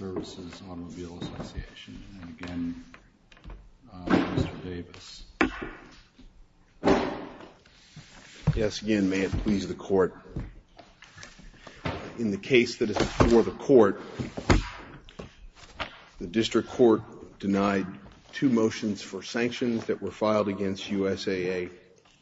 Association. And again, Mr. Davis. Yes, again, may it please the Court. In the case that is before the Court, the District Court denied two motions for sanctions that were filed against USAA.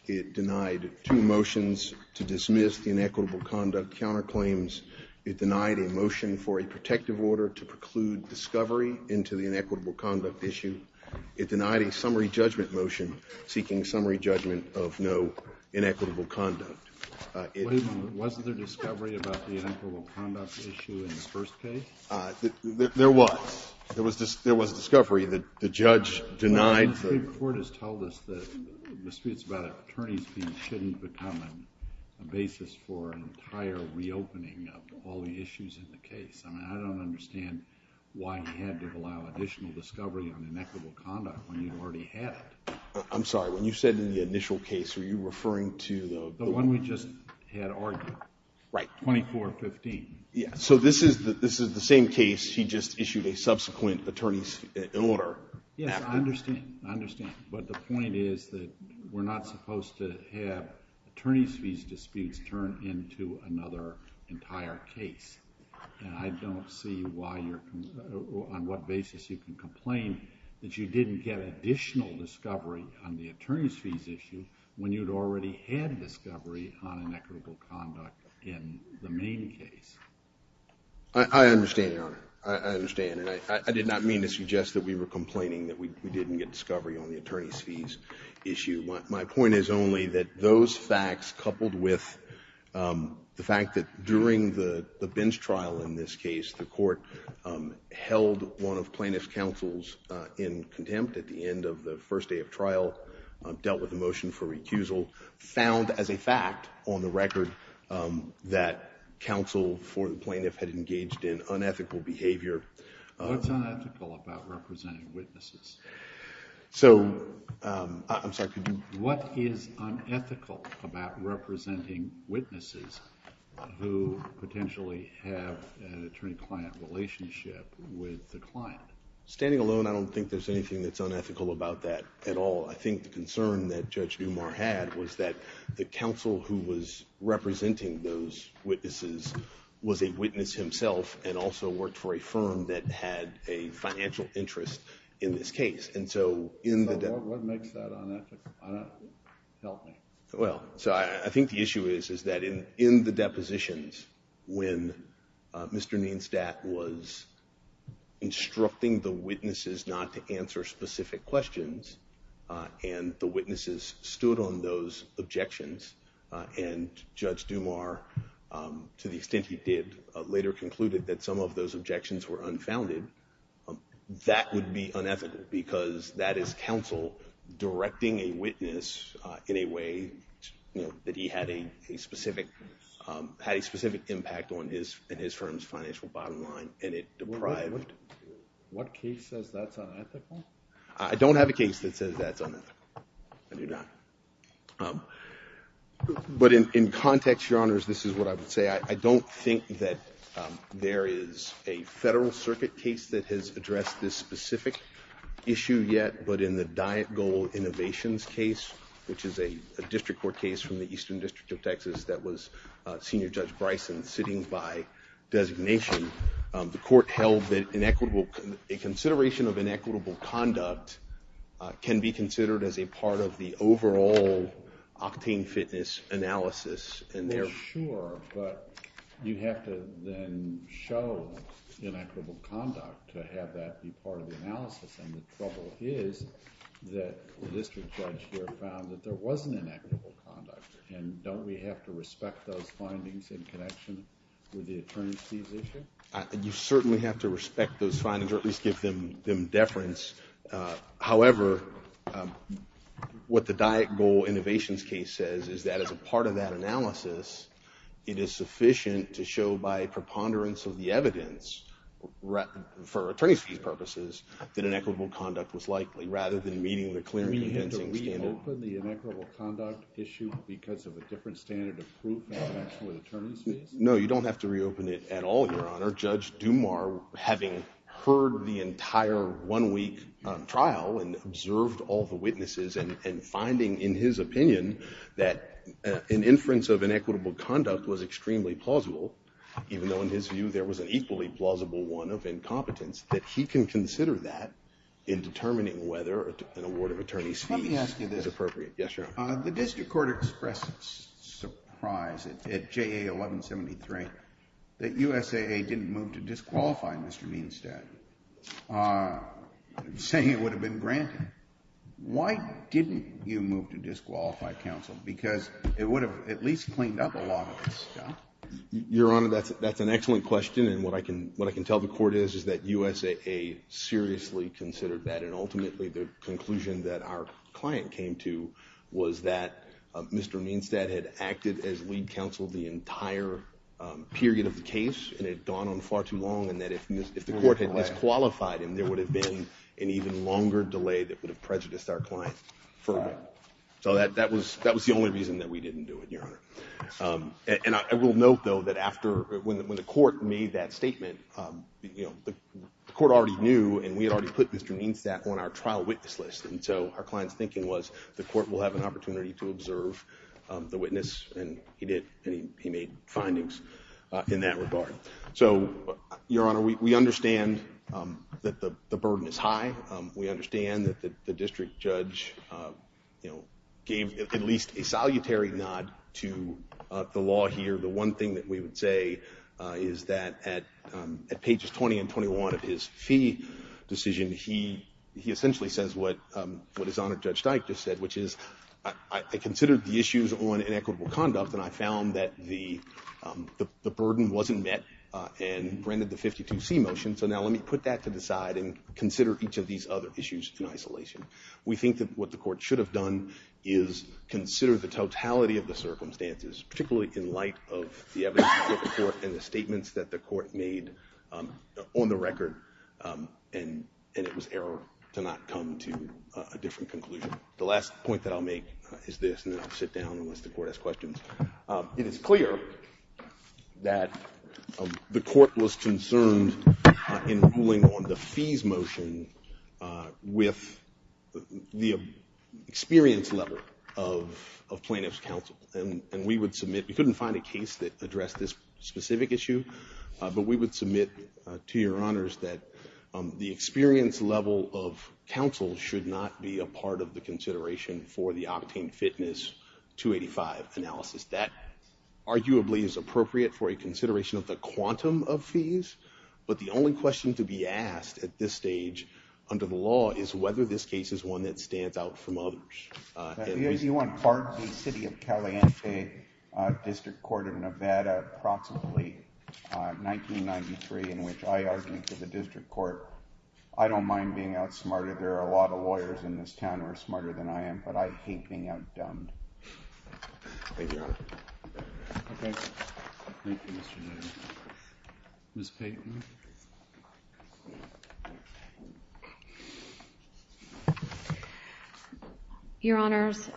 It denied two motions to dismiss the inequitable conduct counterclaims. It denied a motion to preclude discovery into the inequitable conduct issue. It denied a summary judgment motion seeking summary judgment of no inequitable conduct. Wait a minute. Wasn't there discovery about the inequitable conduct issue in the first case? There was. There was discovery. The judge denied the The District Court has told us that disputes about attorneys being shouldn't become a basis for an entire reopening of all the issues in the case. I mean, I don't understand why he had to allow additional discovery on inequitable conduct when you've already had it. I'm sorry. When you said in the initial case, are you referring to the The one we just had argued. Right. 2415. Yeah. So this is the same case. He just issued a subsequent attorney's order. Yes, I understand. I understand. But the point is that we're not supposed to have attorneys' fees disputes turn into another entire case. And I don't see why you're on what basis you can complain that you didn't get additional discovery on the attorney's fees issue when you'd already had discovery on inequitable conduct in the main case. I understand, Your Honor. I understand. And I did not mean to suggest that we were complaining that we didn't get discovery on the attorney's fees issue. My point is only that those facts coupled with the fact that during the bench trial in this case, the court held one of plaintiff's counsels in contempt at the end of the first day of trial, dealt with a motion for recusal, found as a fact on the record that counsel for the plaintiff had engaged in unethical behavior. What's unethical about representing witnesses? So I'm sorry. What is unethical about representing witnesses who potentially have an attorney-client relationship with the client? Standing alone, I don't think there's anything that's unethical about that at all. I think the concern that Judge Dumas had was that the counsel who was representing those witnesses was a witness himself and also worked for a firm that had a financial interest in this case. And so in the- What makes that unethical? Help me. Well, so I think the issue is that in the depositions when Mr. Nienstadt was instructing the witnesses not to answer specific questions and the witnesses stood on those objections and Judge Dumas, to the extent he did, later concluded that some of those objections were a witness in a way that he had a specific impact on his firm's financial bottom line and it deprived- What case says that's unethical? I don't have a case that says that's unethical. I do not. But in context, Your Honors, this is what I would say. I don't think that there is a Federal Circuit case that has addressed this specific issue yet, but in the Diet Goal Innovations case, which is a district court case from the Eastern District of Texas that was Senior Judge Bryson sitting by designation, the court held that a consideration of inequitable conduct can be considered as a part of the overall octane fitness analysis. Yes, sure, but you have to then show inequitable conduct to have that be part of the analysis and the trouble is that the district judge here found that there wasn't inequitable conduct and don't we have to respect those findings in connection with the attorneys' fees issue? You certainly have to respect those findings or at least give them deference. However, what the Diet Goal Innovations case says is that as a part of that analysis, it is sufficient to show by preponderance of the evidence for attorneys' fees purposes that inequitable conduct was likely rather than meeting the clear and condensing standard. Do we have to reopen the inequitable conduct issue because of a different standard of proof in connection with attorneys' fees? No, you don't have to reopen it at all, Your Honor. Judge Dumar, having heard the entire one-week trial and observed all the witnesses and finding in his opinion that an inference of inequitable conduct was extremely plausible, even though in his view there was an equally plausible one of incompetence, that he can consider that in determining whether an award of attorneys' fees is appropriate. Let me ask you this. Yes, Your Honor. The district court expressed surprise at JA 1173 that USAA didn't move to disqualify Mr. Meinstad, saying it would have been granted. Why didn't you move to disqualify counsel? Because it would have at least cleaned up a lot of this stuff. Your Honor, that's an excellent question. What I can tell the court is that USAA seriously considered that. Ultimately, the conclusion that our client came to was that Mr. Meinstad had acted as lead counsel the entire period of the case and had gone on far too long and that if the court had disqualified him, there would have been an even longer delay that would have prejudiced our client further. So that was the only reason that we didn't do it, Your Honor. And I will note, though, that when the court made that statement, the court already knew and we had already put Mr. Meinstad on our trial witness list. And so our client's thinking was the court will have an opportunity to observe the witness, and he did, and he made findings in that regard. So, Your Honor, we understand that the burden is high. We understand that the district judge gave at least a salutary nod to the law here. The one thing that we would say is that at pages 20 and 21 of his fee decision, he essentially says what his Honor Judge Steik just said, which is, I considered the issues on inequitable conduct, and I found that the burden wasn't met and granted the 52C motion. So now let me put that to the side and consider each of these other issues in isolation. We think that what the court should have done is consider the totality of the circumstances, particularly in light of the evidence that the court and the statements that the court made on the record, and it was error to not come to a different conclusion. The last point that I'll make is this, and then I'll sit down unless the court has questions. It is clear that the court was concerned in ruling on the fees motion with the experience level of plaintiff's counsel, and we would submit, we couldn't find a case that addressed this specific issue, but we would submit to Your Honors that the experience level of counsel should not be a part of the consideration for the Octane Fitness 285 analysis. That arguably is appropriate for a consideration of the quantum of fees, but the only question to be asked at this stage under the law is whether this case is one that stands out from others. If you want part of the City of Caliente District Court of Nevada, approximately 1993, in which I argued for the district court, I don't mind being outsmarted. There are a lot of lawyers in this town who are smarter than I am, but I hate being outdumbed. Your Honors,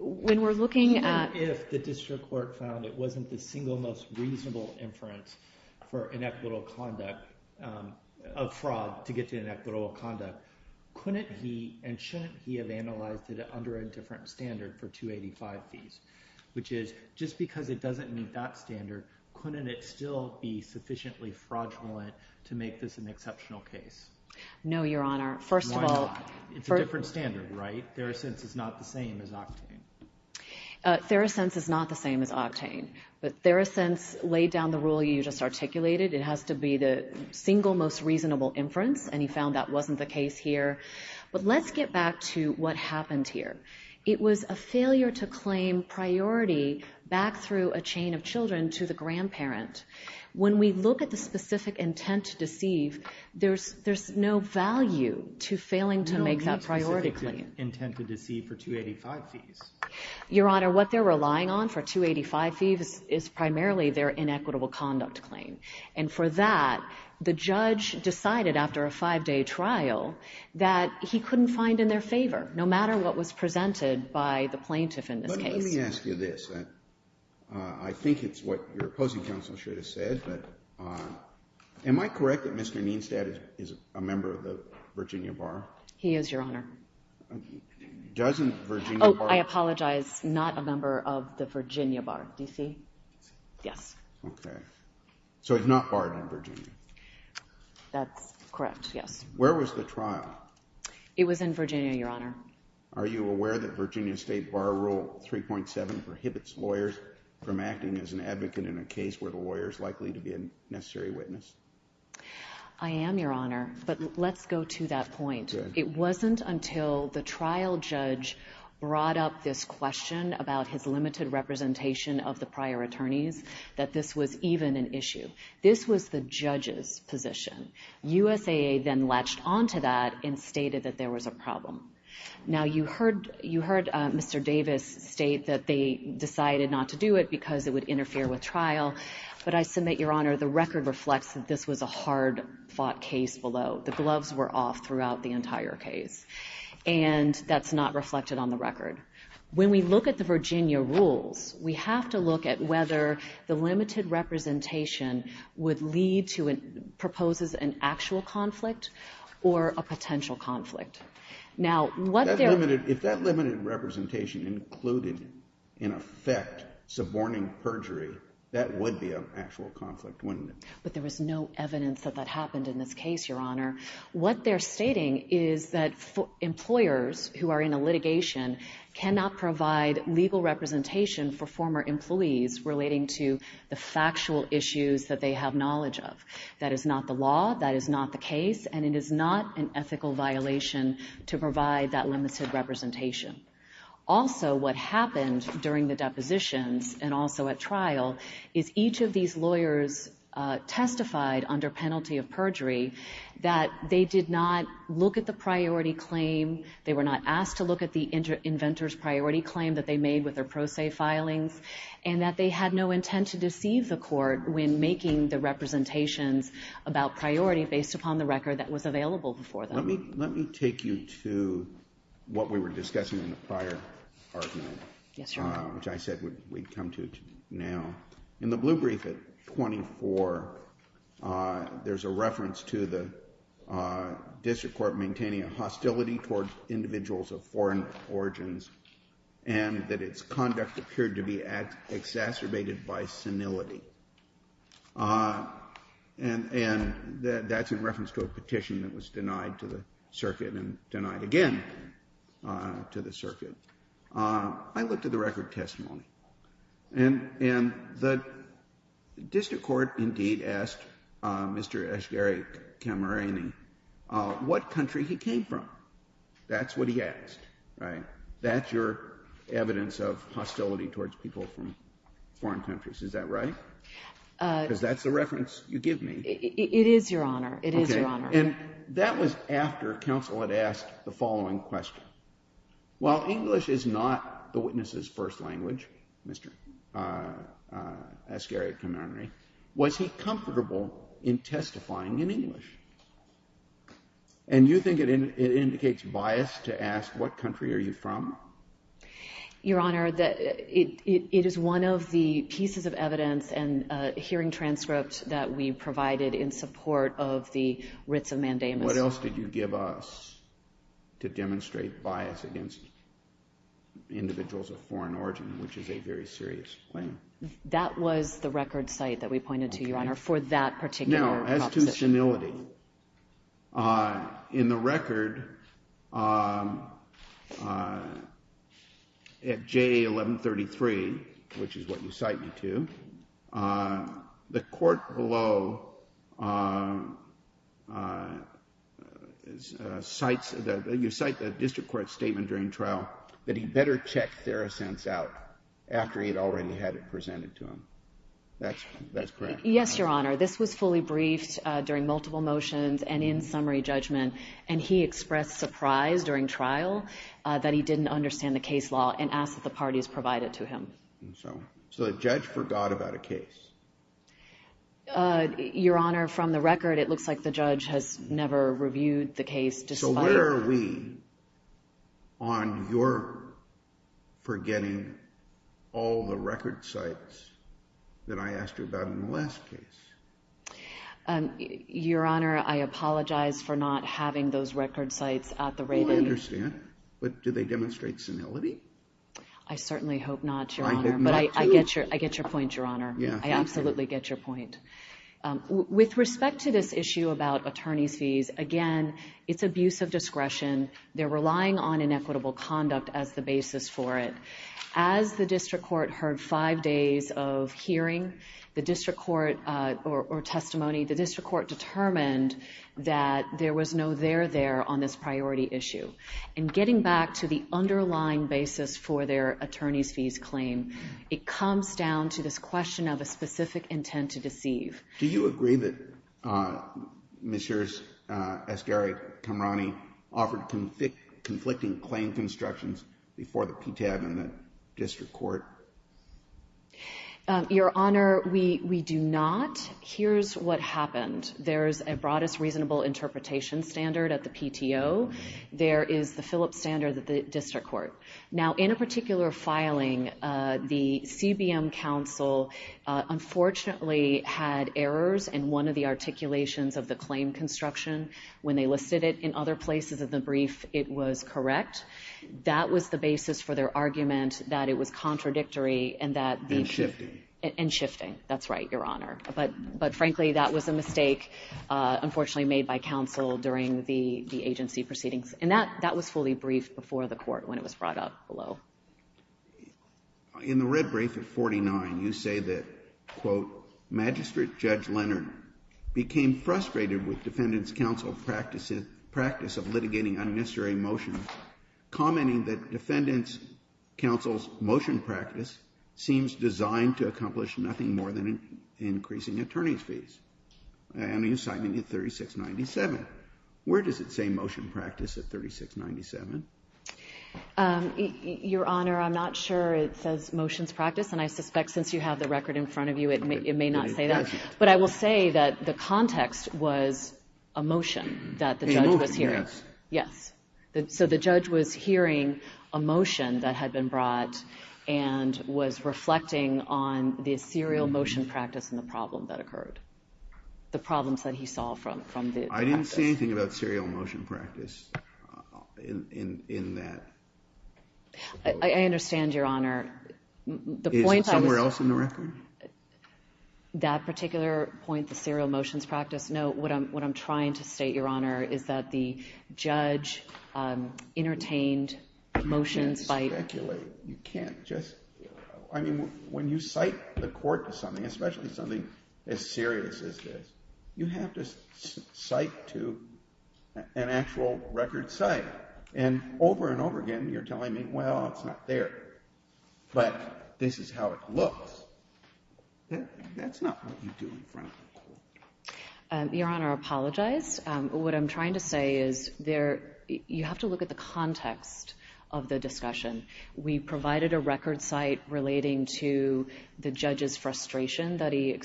when we're looking at... Even if the district court found it wasn't the single most reasonable inference for inequitable conduct of fraud to get to inequitable conduct, couldn't he and shouldn't he have analyzed it under a different standard for 285 fees? Which is, just because it doesn't meet that standard, couldn't it still be sufficiently fraudulent to make this an exceptional case? No, Your Honor. First of all... Why not? It's a different standard, right? Theracense is not the same as Octane. Theracense is not the same as Octane, but Theracense laid down the rule you just articulated. It has to be the single most reasonable inference, and he found that wasn't the case here. But let's get back to what happened here. It was a failure to claim priority back through a chain of children to the grandparent. When we look at the specific intent to deceive, there's no value to failing to make that priority claim. No, no specific intent to deceive for 285 fees. Your Honor, what they're relying on for 285 fees is primarily their inequitable conduct claim. And for that, the judge decided after a five-day trial that he couldn't find in their favor, no matter what was presented by the plaintiff in this case. But let me ask you this. I think it's what your opposing counsel should have said, but am I correct that Mr. Neenstadt is a member of the Virginia Bar? He is, Your Honor. Doesn't Virginia Bar... Oh, I apologize, not a member of the Virginia Bar. Do you see? Yes. Okay. So he's not barred in Virginia? That's correct, yes. Where was the trial? It was in Virginia, Your Honor. Are you aware that Virginia State Bar Rule 3.7 prohibits lawyers from acting as an advocate in a case where the lawyer is likely to be a necessary witness? I am, Your Honor, but let's go to that point. It wasn't until the trial judge brought up this question about his limited representation of the prior attorneys that this was even an issue. This was the judge's position. USAA then latched onto that and stated that there was a problem. Now, you heard Mr. Davis state that they decided not to do it because it would interfere with trial, but I submit, Your Honor, the record reflects that this was a hard-fought case below. The gloves were off throughout the entire case. And that's not reflected on the record. When we look at the Virginia rules, we have to look at whether the limited representation would lead to, proposes an actual conflict or a potential conflict. Now, what they're... If that limited representation included, in effect, suborning perjury, that would be an actual conflict, wouldn't it? But there was no evidence that that happened in this case, Your Honor. What they're stating is that employers who are in a litigation cannot provide legal representation for former employees relating to the factual issues that they have knowledge of. That is not the law. That is not the case. And it is not an ethical violation to provide that limited representation. Also, what happened during the depositions and also at trial is each of these lawyers testified under penalty of perjury that they did not look at the priority claim, they were not asked to look at the inventor's priority claim that they made with their pro se filings, and that they had no intent to deceive the court when making the representations about priority based upon the record that was available before them. Let me take you to what we were discussing in the prior argument, which I said we'd come to now. In the blue brief at 24, there's a reference to the district court maintaining a hostility towards individuals of foreign origins, and that its conduct appeared to be exacerbated by senility. And that's in reference to a petition that was denied to the circuit and denied again to the circuit. I looked at the record testimony, and the district court indeed asked Mr. Ashgeri Kamouriani what country he came from. That's what he asked, right? That's your evidence of hostility towards people from foreign countries, is that right? Because that's the reference you give me. It is, Your Honor. It is, Your Honor. And that was after counsel had asked the following question. While English is not the witness's first language, Mr. Ashgeri Kamouriani, was he comfortable in testifying in English? And you think it indicates bias to ask what country are you from? Your Honor, it is one of the pieces of evidence and hearing transcripts that we provided in the case of Mandamus. What else did you give us to demonstrate bias against individuals of foreign origin, which is a very serious claim? That was the record cite that we pointed to, Your Honor, for that particular proposition. Now, as to senility, in the record at J1133, which is what you cite me to, the court below cites, you cite the district court's statement during trial that he better check Theracense out after he had already had it presented to him. That's correct? Yes, Your Honor. This was fully briefed during multiple motions and in summary judgment. And he expressed surprise during trial that he didn't understand the case law and asked that the parties provide it to him. So the judge forgot about a case? Your Honor, from the record, it looks like the judge has never reviewed the case despite So where are we on your forgetting all the record cites that I asked you about in the last case? Your Honor, I apologize for not having those record cites at the rating. Oh, I understand. But did they demonstrate senility? I did not, too. I get your point, Your Honor. I absolutely get your point. With respect to this issue about attorney's fees, again, it's abuse of discretion. They're relying on inequitable conduct as the basis for it. As the district court heard five days of hearing the district court or testimony, the district court determined that there was no there there on this priority issue. And getting back to the underlying basis for their attorney's fees claim, it comes down to this question of a specific intent to deceive. Do you agree that Ms. Sher's, Esgari-Kamrani, offered conflicting claim constructions before the PTAB and the district court? Your Honor, we do not. Here's what happened. There's a broadest reasonable interpretation standard at the PTO. There is the Phillips standard at the district court. Now, in a particular filing, the CBM counsel unfortunately had errors in one of the articulations of the claim construction. When they listed it in other places of the brief, it was correct. That was the basis for their argument that it was contradictory and that the... And shifting. And shifting. That's right, Your Honor. But frankly, that was a mistake, unfortunately, made by counsel during the agency proceedings. And that was fully briefed before the court when it was brought up below. In the red brief at 49, you say that, quote, Magistrate Judge Leonard became frustrated with Defendant's counsel practice of litigating unnecessary motions, commenting that Defendant's counsel's motion practice seems designed to accomplish nothing more than increasing attorney's time in 3697. Where does it say motion practice at 3697? Your Honor, I'm not sure it says motions practice. And I suspect since you have the record in front of you, it may not say that. But I will say that the context was a motion that the judge was hearing. A motion, yes. Yes. So the judge was hearing a motion that had been brought and was reflecting on the serial motion practice in the problem that occurred. The problems that he saw from the practice. I didn't see anything about serial motion practice in that. I understand, Your Honor. The point I was... Is it somewhere else in the record? That particular point, the serial motions practice, no. What I'm trying to state, Your Honor, is that the judge entertained motions by... You can't just... I mean, when you cite the court to something, especially something as serious as this, you have to cite to an actual record site. And over and over again, you're telling me, well, it's not there. But this is how it looks. That's not what you do in front of the court. Your Honor, I apologize. What I'm trying to say is you have to look at the context of the discussion. We provided a record site relating to the judge's frustration that he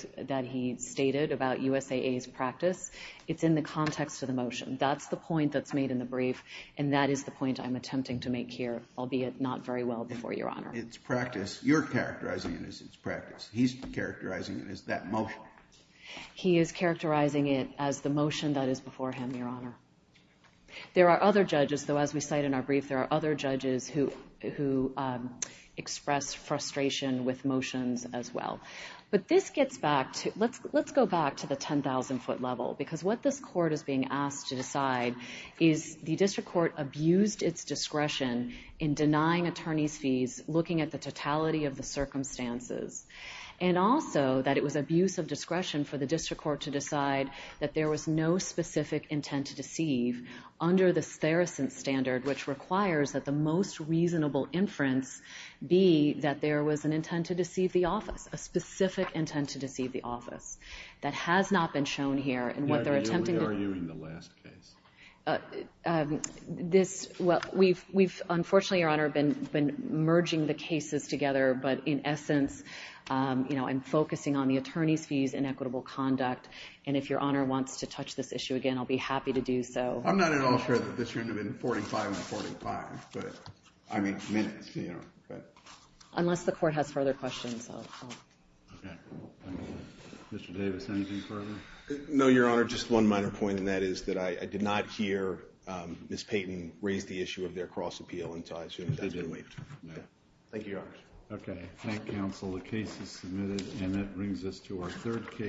stated about USAA's practice. It's in the context of the motion. That's the point that's made in the brief, and that is the point I'm attempting to make here, albeit not very well before, Your Honor. It's practice. You're characterizing it as it's practice. He's characterizing it as that motion. He is characterizing it as the motion that is before him, Your Honor. There are other judges who express frustration with motions as well. But this gets back to... Let's go back to the 10,000-foot level, because what this court is being asked to decide is the district court abused its discretion in denying attorneys' fees, looking at the totality of the circumstances, and also that it was abuse of discretion for the district court to decide that there was no specific intent to deceive under the Theracent standard, which requires that the most reasonable inference be that there was an intent to deceive the office, a specific intent to deceive the office. That has not been shown here, and what they're attempting to... You're arguing the last case. This... Well, we've... Unfortunately, Your Honor, been merging the cases together, but in essence, you know, I'm focusing on the attorneys' fees and equitable conduct, and if Your Honor wants to touch this issue again, I'll be happy to do so. I'm not at all sure that this should have been 45 on 45, but... I mean, minutes, you know, but... Unless the court has further questions, I'll... Okay. Mr. Davis, anything further? No, Your Honor, just one minor point, and that is that I did not hear Ms. Payton raise the issue of their cross-appeal until I assume that that's been waived. Okay. Thank you, Your Honor. Okay. Thank you, counsel. The case is submitted, and that brings us to our third case.